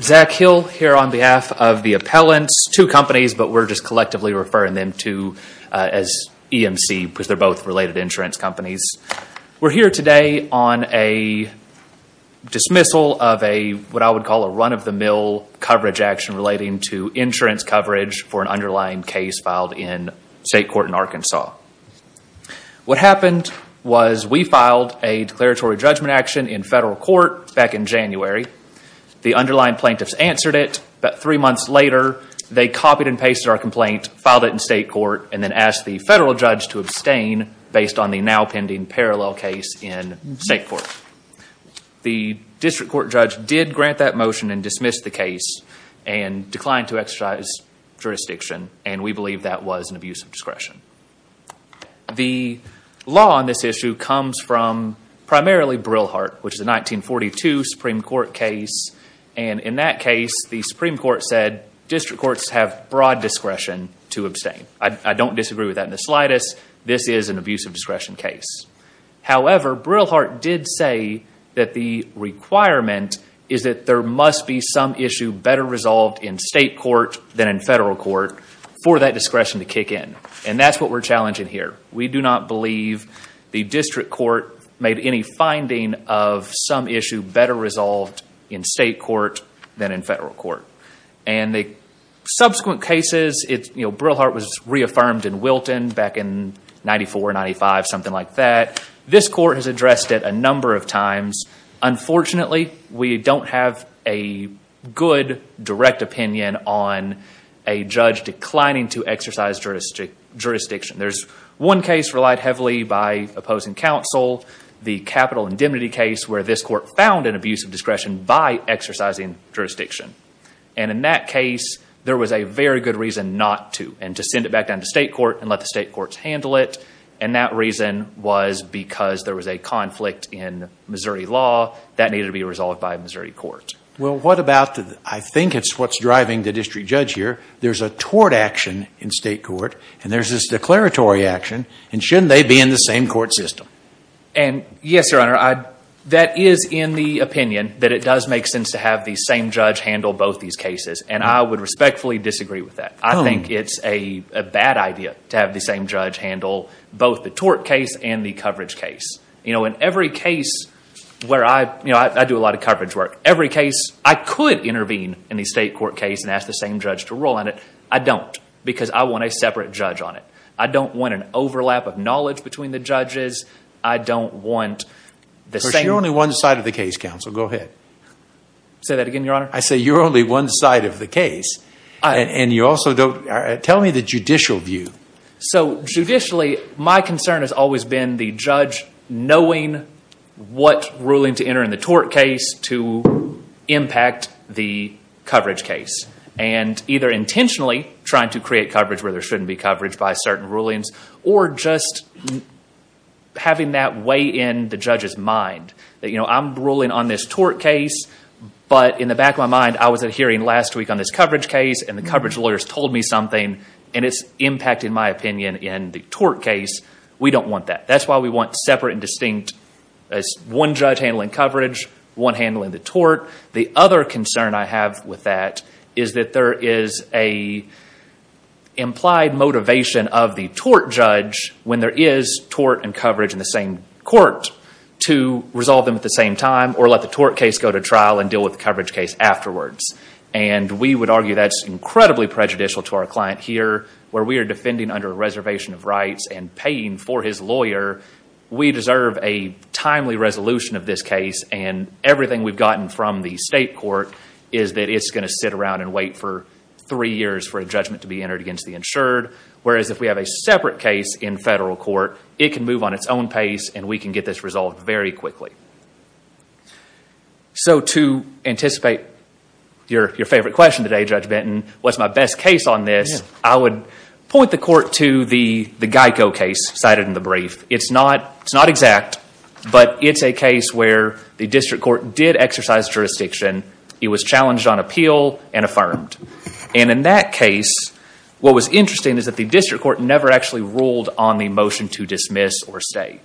Zach Hill here on behalf of the appellants, two companies, but we're just collectively referring them to as EMC because they're both related insurance companies. We're here today on a dismissal of what I would call a run-of-the-mill coverage action relating to insurance coverage for an underlying case filed in state court in Arkansas. What happened was we filed a declaratory judgment action in federal court back in January. The underlying plaintiffs answered it, but three months later they copied and pasted our complaint, filed it in state court, and then asked the federal judge to abstain based on the now pending parallel case in state court. The district court judge did grant that motion and dismissed the case and declined to exercise jurisdiction, and we believe that was an abuse of discretion. The law on this issue comes from primarily Brillhart, which is a 1942 Supreme Court case. In that case, the Supreme Court said district courts have broad discretion to abstain. I don't disagree with that in the slightest. This is an abuse of discretion case. However, Brillhart did say that the requirement is that there must be some issue better resolved in state court than in federal court for that discretion to kick in. That's what we're challenging here. We do not believe the district court made any finding of some issue better resolved in state court than in federal court. The subsequent cases, Brillhart was reaffirmed in Wilton back in 94, 95, something like that. This court has addressed it a number of times. Unfortunately, we don't have a good direct opinion on a judge declining to exercise jurisdiction. There's one case relied heavily by opposing counsel, the Capital Indemnity case, where this court found an abuse of discretion by exercising jurisdiction. In that case, there was a very good reason not to and to send it back down to state court and let the state courts handle it. That reason was because there was a conflict in Missouri law that needed to be resolved by a Missouri court. Well, what about the... I think it's what's driving the district judge here. There's a tort action in state court, and there's this declaratory action, and shouldn't they be in the same court system? Yes, Your Honor. That is in the opinion that it does make sense to have the same judge handle both these cases, and I would respectfully disagree with that. I think it's a bad idea to have the same judge handle both the tort case and the coverage case. In every case where I... I do a lot of coverage work. Every case, I could intervene in the state court case and ask the same judge to rule on it. I don't, because I want a separate judge on it. I don't want an overlap of knowledge between the judges. I don't want the same... You're only one side of the case, counsel. Go ahead. Say that again, Your Honor? I say you're only one side of the case, and you also don't... Tell me the judicial view. So judicially, my concern has always been the judge knowing what ruling to enter in the tort case to impact the coverage case, and either intentionally trying to create coverage where there shouldn't be coverage by certain rulings, or just having that weigh in the judge's mind. I'm ruling on this tort case, but in the back of my mind, I was at a hearing last week on this coverage case, and the coverage lawyers told me something, and it's impacting my opinion in the tort case. We don't want that. That's why we want separate and distinct, one judge handling coverage, one handling the tort. The other concern I have with that is that there is an implied motivation of the tort judge, when there is tort and coverage in the same court, to resolve them at the same time, or let the tort case go to trial and deal with the coverage case afterwards. We would argue that's incredibly prejudicial to our client here, where we are defending under a reservation of rights and paying for his lawyer. We deserve a timely resolution of this case, and everything we've gotten from the state court is that it's going to sit around and wait for three years for a judgment to be entered against the insured, whereas if we have a separate case in federal court, it can move on its own pace, and we can get this resolved very quickly. To anticipate your favorite question today, Judge Benton, what's my best case on this, I would point the court to the Geico case cited in the brief. It's not exact, but it's a case where the district court did exercise jurisdiction. It was challenged on appeal and affirmed. In that case, what was interesting is that the district court never actually ruled on the motion to dismiss or stay.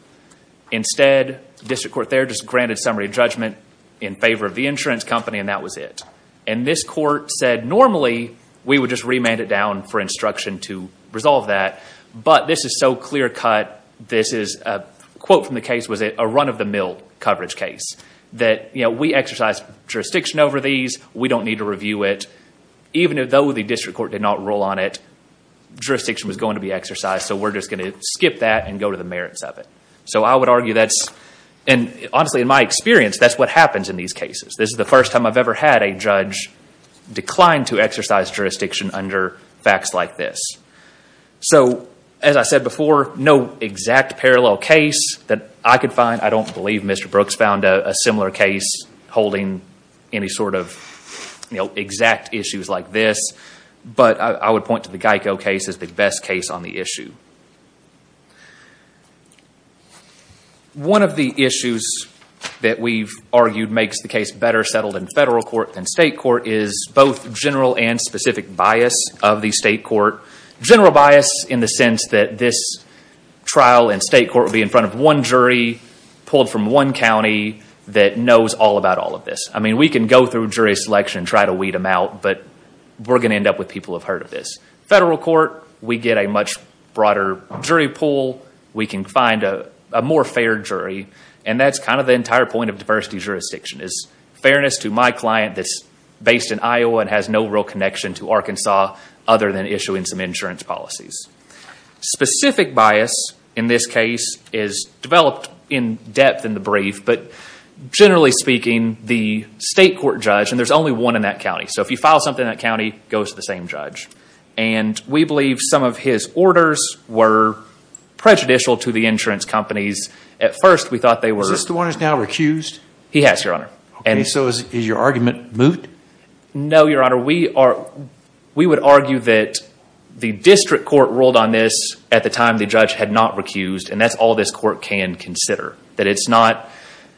Instead, the district court there just granted summary judgment in favor of the insurance company and that was it. This court said, normally, we would just remand it down for instruction to resolve that, but this is so clear cut. This is a quote from the case was a run of the mill coverage case, that we exercise jurisdiction over these. We don't need to review it. Even though the district court did not rule on it, jurisdiction was going to be exercised, so we're just going to skip that and go to the merits of it. I would argue that's... Honestly, in my experience, that's what happens in these cases. This is the first time I've ever had a judge decline to exercise jurisdiction under facts like this. As I said before, no exact parallel case that I could find. I don't believe Mr. Brooks found a similar case holding any sort of exact issues like this, but I would point to the Geico case as the best case on the issue. One of the issues that we've argued makes the case better settled in federal court than state court is both general and specific bias of the state court. General bias in the sense that this trial in state court would be in front of one jury pulled from one county that knows all about all of this. We can go through jury selection and try to weed them out, but we're going to end up with people who have heard of this. Federal court, we get a much broader jury pool. We can find a more fair jury, and that's kind of the entire point of diversity jurisdiction is fairness to my client that's based in Iowa and has no real connection to Arkansas other than issuing some insurance policies. Specific bias in this case is developed in depth in the brief, but generally speaking, the state court judge, and there's only one in that county, so if you file something in that county, it goes to the same judge. We believe some of his orders were prejudicial to the insurance companies. At first, we thought they were- Is this the one that's now recused? He has, Your Honor. Okay, so is your argument moot? No, Your Honor. We would argue that the district court ruled on this at the time the judge had not recused, and that's all this court can consider.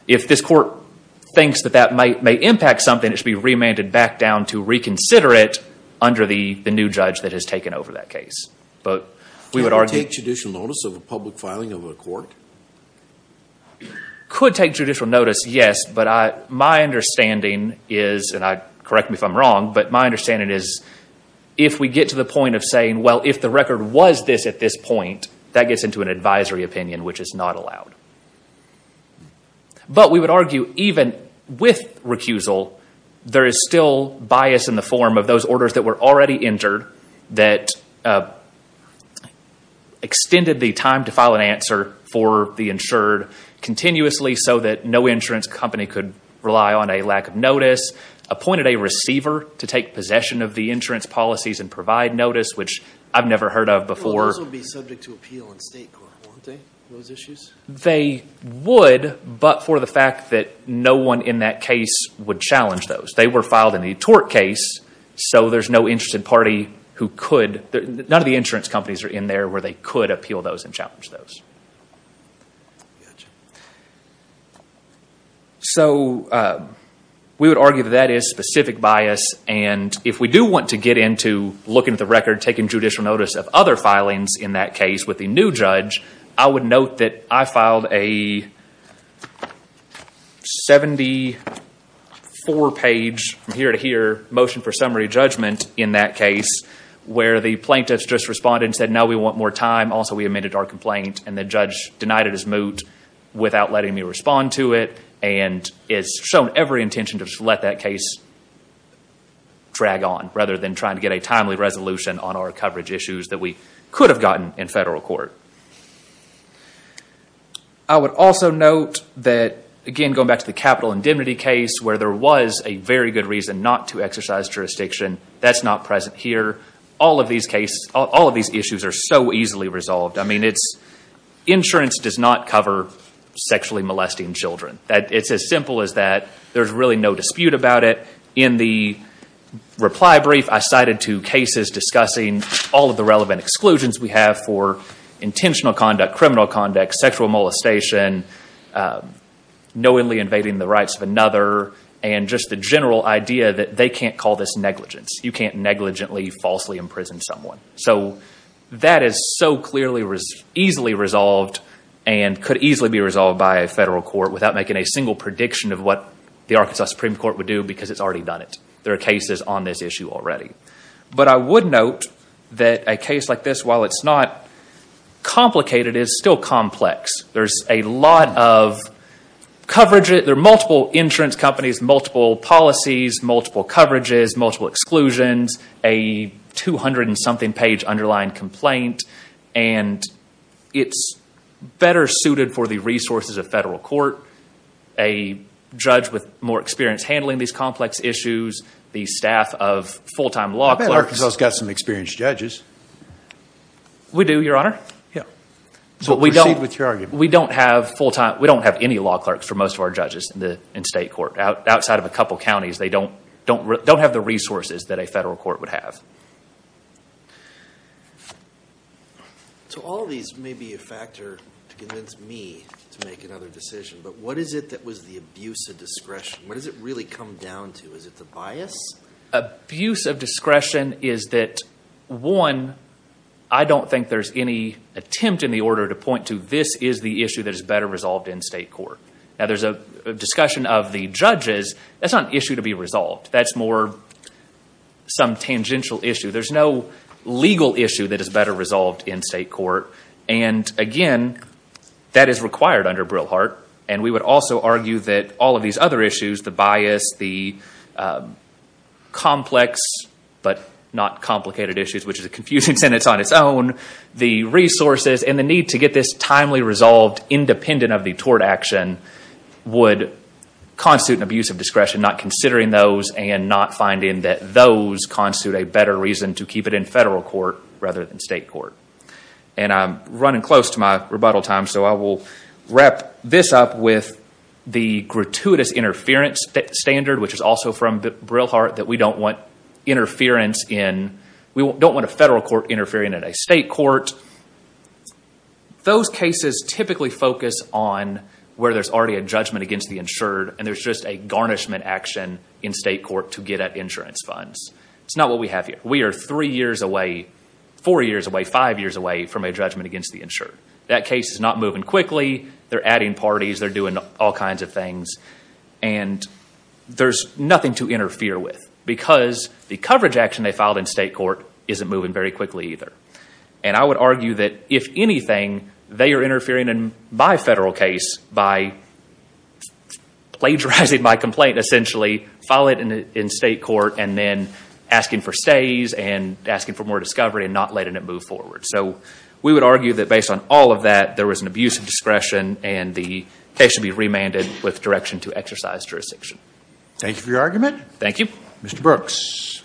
If this court thinks that that may impact something, it should be remanded back down to reconsider it under the new judge that has taken over that case. We would argue- Could it take judicial notice of a public filing of a court? Could take judicial notice, yes, but my understanding is, and correct me if I'm wrong, but my understanding is if we get to the point of saying, well, if the record was this at this point, that gets into an advisory opinion, which is not allowed. But we would argue even with recusal, there is still bias in the form of those orders that were already entered that extended the time to file an answer for the insured continuously so that no insurance company could rely on a lack of notice, appointed a receiver to take possession of the insurance policies and provide notice, which I've never heard of before. They would also be subject to appeal in state court, wouldn't they, those issues? They would, but for the fact that no one in that case would challenge those. They were filed in the tort case, so there's no interested party who could, none of the insurance companies are in there where they could appeal those and challenge those. So we would argue that that is specific bias, and if we do want to get into looking at the filings in that case with the new judge, I would note that I filed a 74-page, from here to here, motion for summary judgment in that case where the plaintiffs just responded and said, no, we want more time. Also we amended our complaint, and the judge denied it as moot without letting me respond to it and has shown every intention to just let that case drag on rather than trying to get a timely resolution on our coverage issues that we could have gotten in federal court. I would also note that, again going back to the capital indemnity case where there was a very good reason not to exercise jurisdiction, that's not present here. All of these issues are so easily resolved. Insurance does not cover sexually molesting children. It's as simple as that. There's really no dispute about it. In the reply brief, I cited two cases discussing all of the relevant exclusions we have for intentional conduct, criminal conduct, sexual molestation, knowingly invading the rights of another, and just the general idea that they can't call this negligence. You can't negligently, falsely imprison someone. So that is so clearly, easily resolved and could easily be resolved by a federal court without making a single prediction of what the Arkansas Supreme Court would do because it's already done it. There are cases on this issue already. But I would note that a case like this, while it's not complicated, it's still complex. There's a lot of coverage. There are multiple insurance companies, multiple policies, multiple coverages, multiple exclusions, a 200 and something page underlying complaint, and it's better suited for the resources of the staff of full-time law clerks. I bet Arkansas's got some experienced judges. We do, Your Honor. Yeah. So proceed with your argument. We don't have full-time, we don't have any law clerks for most of our judges in state court. Outside of a couple counties, they don't have the resources that a federal court would have. So all of these may be a factor to convince me to make another decision, but what is it that was the abuse of discretion? What does it really come down to? Is it the bias? Abuse of discretion is that, one, I don't think there's any attempt in the order to point to this is the issue that is better resolved in state court. Now, there's a discussion of the judges. That's not an issue to be resolved. That's more some tangential issue. There's no legal issue that is better resolved in state court. And again, that is required under Brillhart. And we would also argue that all of these other issues, the bias, the complex but not complicated issues, which is a confusing sentence on its own, the resources and the need to get this timely resolved independent of the tort action, would constitute an abuse of discretion not considering those and not finding that those constitute a better reason to keep it in federal court rather than state court. And I'm running close to my rebuttal time, so I will wrap this up with the gratuitous interference standard, which is also from Brillhart, that we don't want a federal court interfering in a state court. Those cases typically focus on where there's already a judgment against the insured and there's just a garnishment action in state court to get at insurance funds. It's not what we have here. We are three years away, four years away, five years away from a judgment against the insured. That case is not moving quickly. They're adding parties. They're doing all kinds of things. And there's nothing to interfere with because the coverage action they filed in state court isn't moving very quickly either. And I would argue that if anything, they are interfering in my federal case by plagiarizing my complaint essentially, filing it in state court, and then asking for stays and asking for more discovery and not letting it move forward. So we would argue that based on all of that, there was an abuse of discretion and the case should be remanded with direction to exercise jurisdiction. Thank you for your argument. Thank you. Mr. Brooks.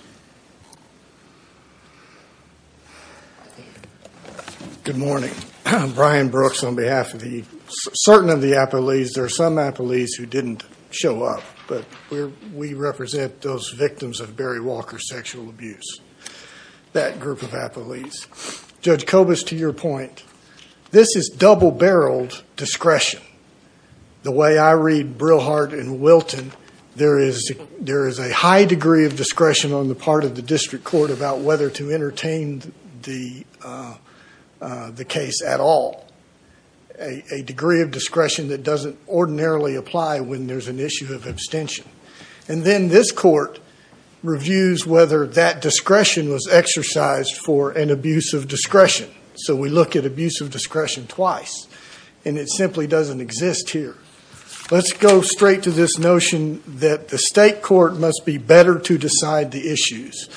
I'm Brian Brooks on behalf of the certain of the appellees. There are some appellees who didn't show up, but we represent those victims of Barry Walker sexual abuse, that group of appellees. Judge Kobus, to your point, this is double-barreled discretion. The way I read Brillhart and Wilton, there is a high degree of discretion on the part of the district court about whether to entertain the case at all. A degree of discretion that doesn't ordinarily apply when there's an issue of abstention. And then this court reviews whether that discretion was exercised for an abuse of discretion. So we look at abuse of discretion twice, and it simply doesn't exist here. Let's go straight to this notion that the state court must be better to decide the issues.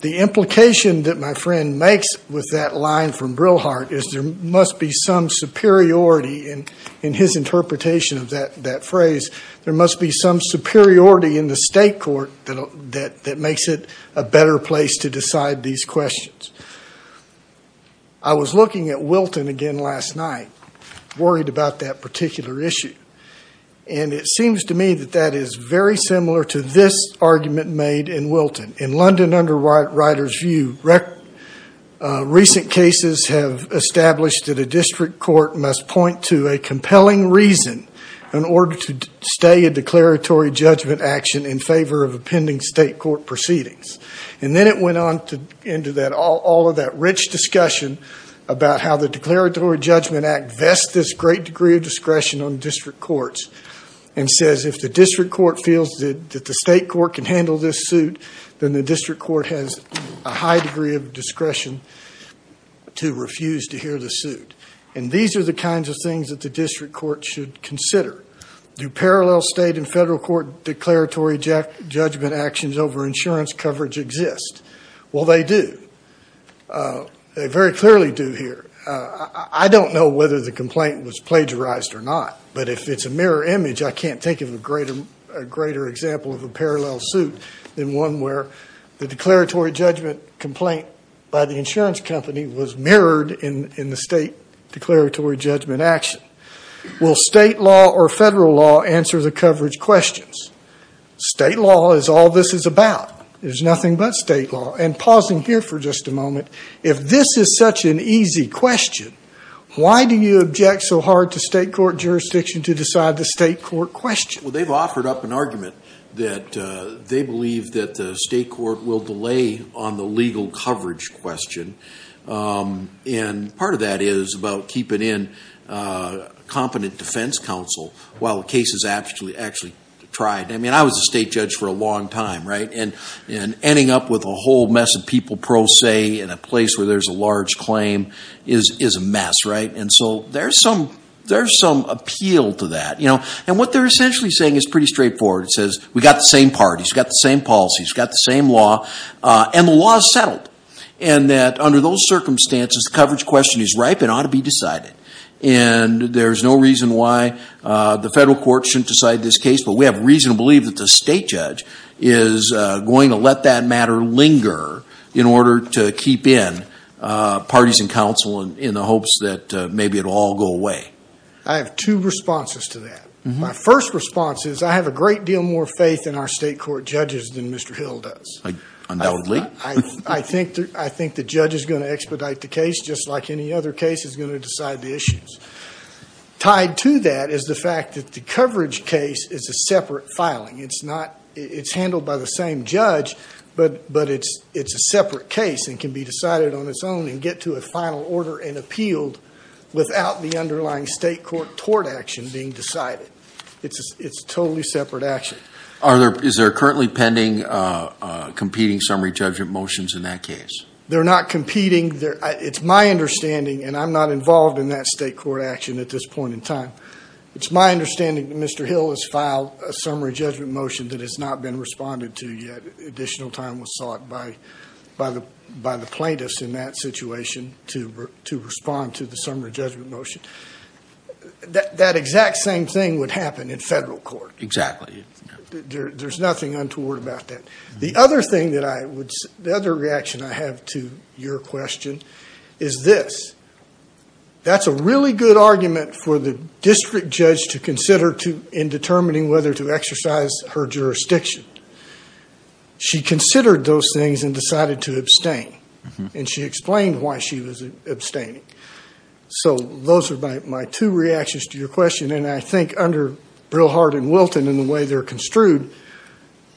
The implication that my friend makes with that line from Brillhart is there must be some superiority in his interpretation of that phrase. There must be some superiority in the state court that makes it a better place to decide these questions. I was looking at Wilton again last night, worried about that particular issue. And it seems to me that that is very similar to this argument made in Wilton. In London Underwriter's view, recent cases have established that a district court must point to a compelling reason in order to stay a declaratory judgment action in favor of a pending state court proceedings. And then it went on into all of that rich discussion about how the Declaratory Judgment Act vests this great degree of discretion on district courts and says if the district court feels that the state court can handle this suit, then the district court has a high degree of discretion to refuse to hear the suit. And these are the kinds of things that the district court should consider. Do parallel state and federal court declaratory judgment actions over insurance coverage exist? Well, they do. They very clearly do here. I don't know whether the complaint was plagiarized or not, but if it's a mirror image, I can't think of a greater example of a parallel suit than one where the declaratory judgment complaint by the insurance company was mirrored in the state declaratory judgment action. Will state law or federal law answer the coverage questions? State law is all this is about. There's nothing but state law. And pausing here for just a moment, if this is such an easy question, why do you object so hard to state court jurisdiction to decide the state court question? Well, they've offered up an argument that they believe that the state court will delay on the legal coverage question. And part of that is about keeping in competent defense counsel while the case is actually tried. I mean, I was a state judge for a long time, right? And ending up with a whole mess of people pro se in a place where there's a large claim is a mess, right? And so there's some appeal to that. And what they're essentially saying is pretty straightforward. It says, we've got the same parties, we've got the same policies, we've got the same law, and the law is settled. And that under those circumstances, the coverage question is ripe and ought to be decided. And there's no reason why the federal court shouldn't decide this case, but we have reason to believe that the state judge is going to let that matter linger in order to keep in competent defense counsel in the hopes that maybe it'll all go away. I have two responses to that. My first response is I have a great deal more faith in our state court judges than Mr. Hill does. Undoubtedly. I think the judge is going to expedite the case just like any other case is going to decide the issues. Tied to that is the fact that the coverage case is a separate filing. It's handled by the same judge, but it's a separate case and can be decided on its own and get to a final order and appealed without the underlying state court tort action being decided. It's a totally separate action. Is there currently pending competing summary judgment motions in that case? They're not competing. It's my understanding, and I'm not involved in that state court action at this point in time. It's my understanding that Mr. Hill has filed a summary judgment motion that has not been to respond to the summary judgment motion. That exact same thing would happen in federal court. Exactly. There's nothing untoward about that. The other thing that I would... The other reaction I have to your question is this. That's a really good argument for the district judge to consider in determining whether to exercise her jurisdiction. She considered those things and decided to abstain. She explained why she was abstaining. Those are my two reactions to your question. I think under Brillhart and Wilton and the way they're construed,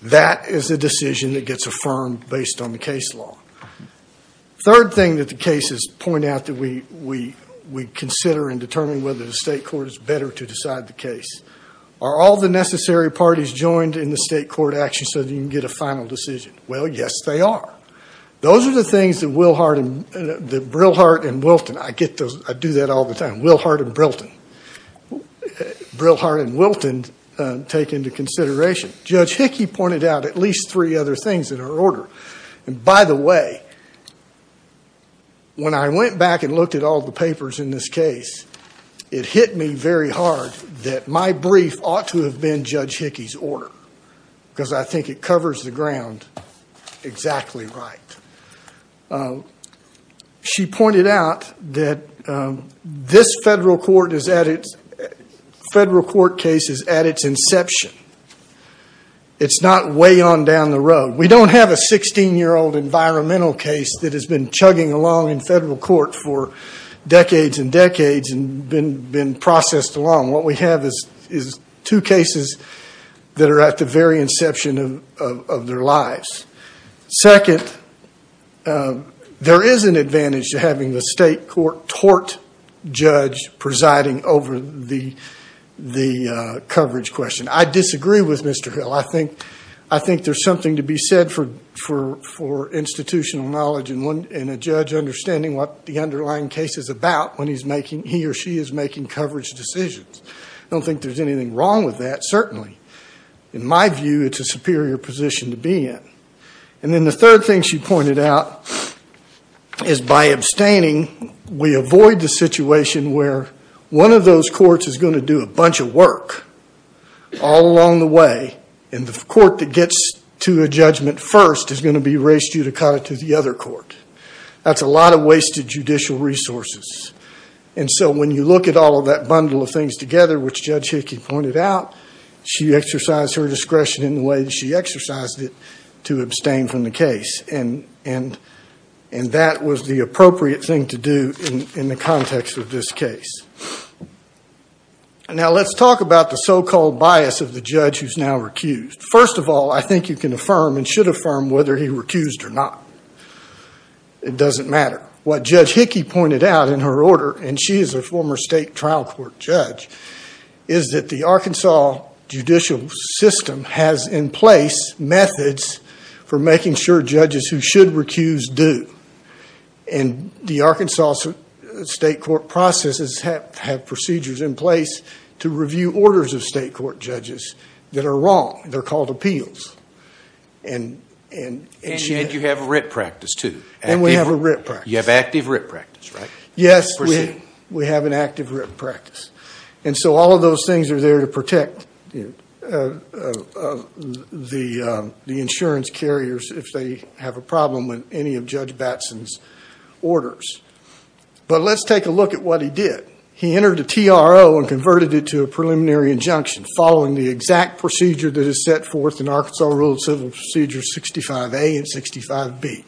that is a decision that gets affirmed based on the case law. Third thing that the cases point out that we consider in determining whether the state court is better to decide the case. Are all the necessary parties joined in the state court action so that you can get a final decision? Well, yes, they are. Those are the things that Brillhart and Wilton... I do that all the time. Brillhart and Wilton take into consideration. Judge Hickey pointed out at least three other things in her order. By the way, when I went back and looked at all the papers in this case, it hit me very hard that my brief ought to have been Judge Hickey's order because I think it covers the right. She pointed out that this federal court case is at its inception. It's not way on down the road. We don't have a 16-year-old environmental case that has been chugging along in federal court for decades and decades and been processed along. What we have is two cases that are at the very inception of their lives. Second, there is an advantage to having the state court tort judge presiding over the coverage question. I disagree with Mr. Hill. I think there's something to be said for institutional knowledge and a judge understanding what the underlying case is about when he or she is making coverage decisions. I don't think there's anything wrong with that, certainly. In my view, it's a superior position to be in. The third thing she pointed out is by abstaining, we avoid the situation where one of those courts is going to do a bunch of work all along the way and the court that gets to a judgment first is going to be raised judicata to the other court. That's a lot of wasted judicial resources. And so when you look at all of that bundle of things together, which Judge Hickey pointed out, she exercised her discretion in the way that she exercised it to abstain from the case. And that was the appropriate thing to do in the context of this case. Now let's talk about the so-called bias of the judge who's now recused. First of all, I think you can affirm and should affirm whether he recused or not. It doesn't matter. What Judge Hickey pointed out in her order, and she is a former state trial court judge, is that the Arkansas judicial system has in place methods for making sure judges who should recuse do. And the Arkansas state court processes have procedures in place to review orders of state court judges that are wrong. They're called appeals. And yet you have a writ practice, too. And we have a writ practice. You have active writ practice, right? Yes, we have an active writ practice. And so all of those things are there to protect the insurance carriers if they have a problem with any of Judge Batson's orders. But let's take a look at what he did. He entered a TRO and converted it to a preliminary injunction following the exact procedure that Arkansas ruled Civil Procedure 65A and 65B.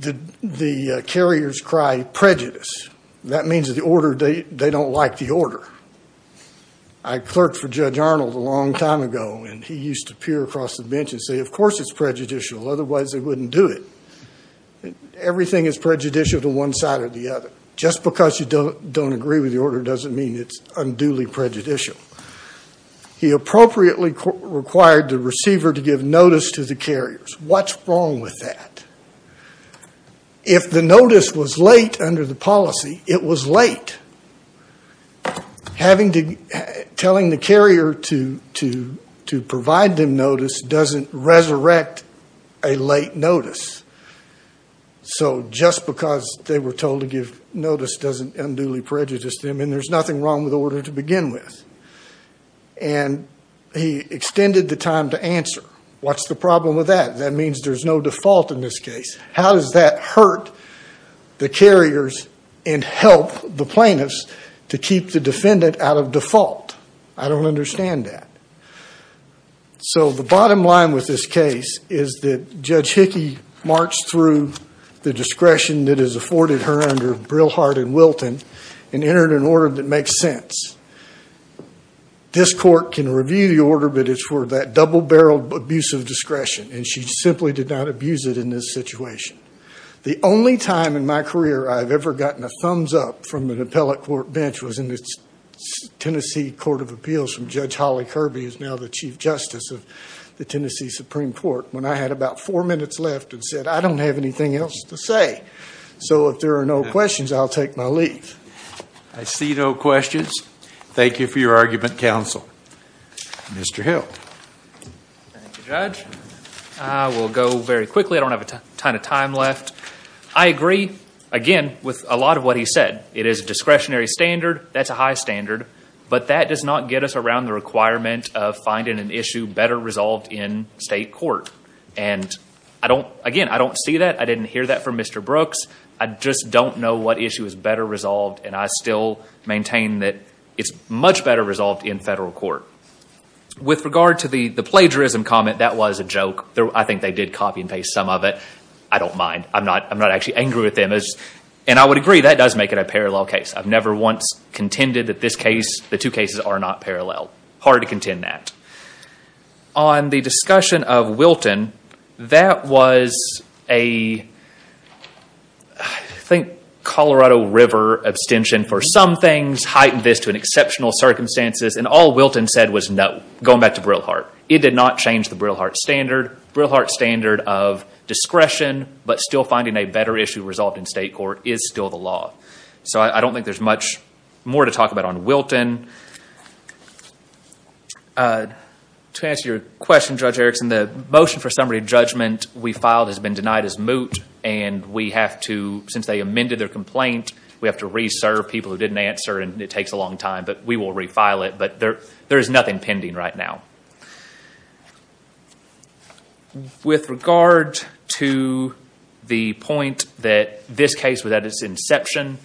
The carriers cry prejudice. That means they don't like the order. I clerked for Judge Arnold a long time ago, and he used to peer across the bench and say, of course it's prejudicial, otherwise they wouldn't do it. Everything is prejudicial to one side or the other. Just because you don't agree with the order doesn't mean it's unduly prejudicial. He appropriately required the receiver to give notice to the carriers. What's wrong with that? If the notice was late under the policy, it was late. Telling the carrier to provide them notice doesn't resurrect a late notice. So just because they were told to give notice doesn't unduly prejudice them, and there's nothing wrong with the order to begin with. And he extended the time to answer. What's the problem with that? That means there's no default in this case. How does that hurt the carriers and help the plaintiffs to keep the defendant out of default? I don't understand that. So the bottom line with this case is that Judge Hickey marched through the discretion that is afforded her under Brillhart and Wilton and entered an order that makes sense. This court can review the order, but it's for that double-barreled abuse of discretion, and she simply did not abuse it in this situation. The only time in my career I've ever gotten a thumbs-up from an appellate court bench was in the Tennessee Court of Appeals from Judge Holly Kirby, who's now the Chief Justice of the Tennessee Supreme Court, when I had about four minutes left and said, I don't have anything else to say. So if there are no questions, I'll take my leave. I see no questions. Thank you for your argument, counsel. Mr. Hill. Thank you, Judge. I will go very quickly. I don't have a ton of time left. I agree, again, with a lot of what he said. It is a discretionary standard. That's a high standard. But that does not get us around the requirement of finding an issue better resolved in state court. And again, I don't see that. I didn't hear that from Mr. Brooks. I just don't know what issue is better resolved. And I still maintain that it's much better resolved in federal court. With regard to the plagiarism comment, that was a joke. I think they did copy and paste some of it. I don't mind. I'm not actually angry with them. And I would agree, that does make it a parallel case. I've never once contended that the two cases are not parallel. Hard to contend that. On the discussion of Wilton, that was a, I think, Colorado River abstention for some things heightened this to an exceptional circumstances. And all Wilton said was no, going back to Breilhardt. It did not change the Breilhardt standard. Breilhardt standard of discretion, but still finding a better issue resolved in state court is still the law. So I don't think there's much more to talk about on Wilton. To answer your question, Judge Erickson, the motion for summary judgment we filed has been denied as moot. And we have to, since they amended their complaint, we have to re-serve people who didn't answer and it takes a long time. But we will re-file it. But there is nothing pending right now. With regard to the point that this case was at its inception,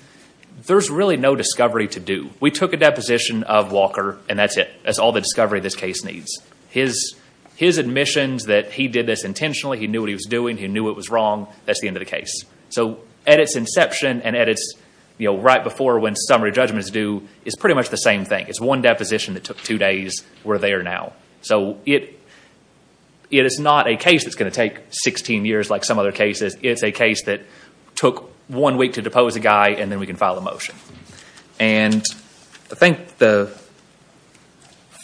there's really no discovery to do. We took a deposition of Walker and that's it. That's all the discovery this case needs. His admissions that he did this intentionally, he knew what he was doing, he knew it was wrong, that's the end of the case. So at its inception and at its, right before when summary judgment is due, is pretty much the same thing. It's one deposition that took two days. We're there now. So it is not a case that's going to take 16 years like some other cases. It's a case that took one week to depose a guy and then we can file a motion. And I think the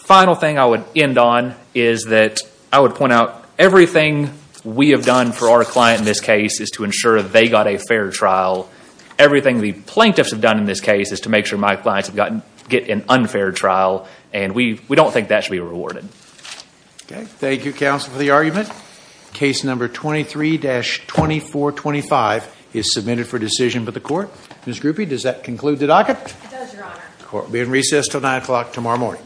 final thing I would end on is that I would point out everything we have done for our client in this case is to ensure they got a fair trial. Everything the plaintiffs have done in this case is to make sure my clients get an unfair trial. And we don't think that should be rewarded. Okay. Thank you counsel for the argument. Case number 23-2425 is submitted for decision by the court. Ms. Grupe, does that conclude the docket? It does, your honor. The court will be in recess until 9 o'clock tomorrow morning.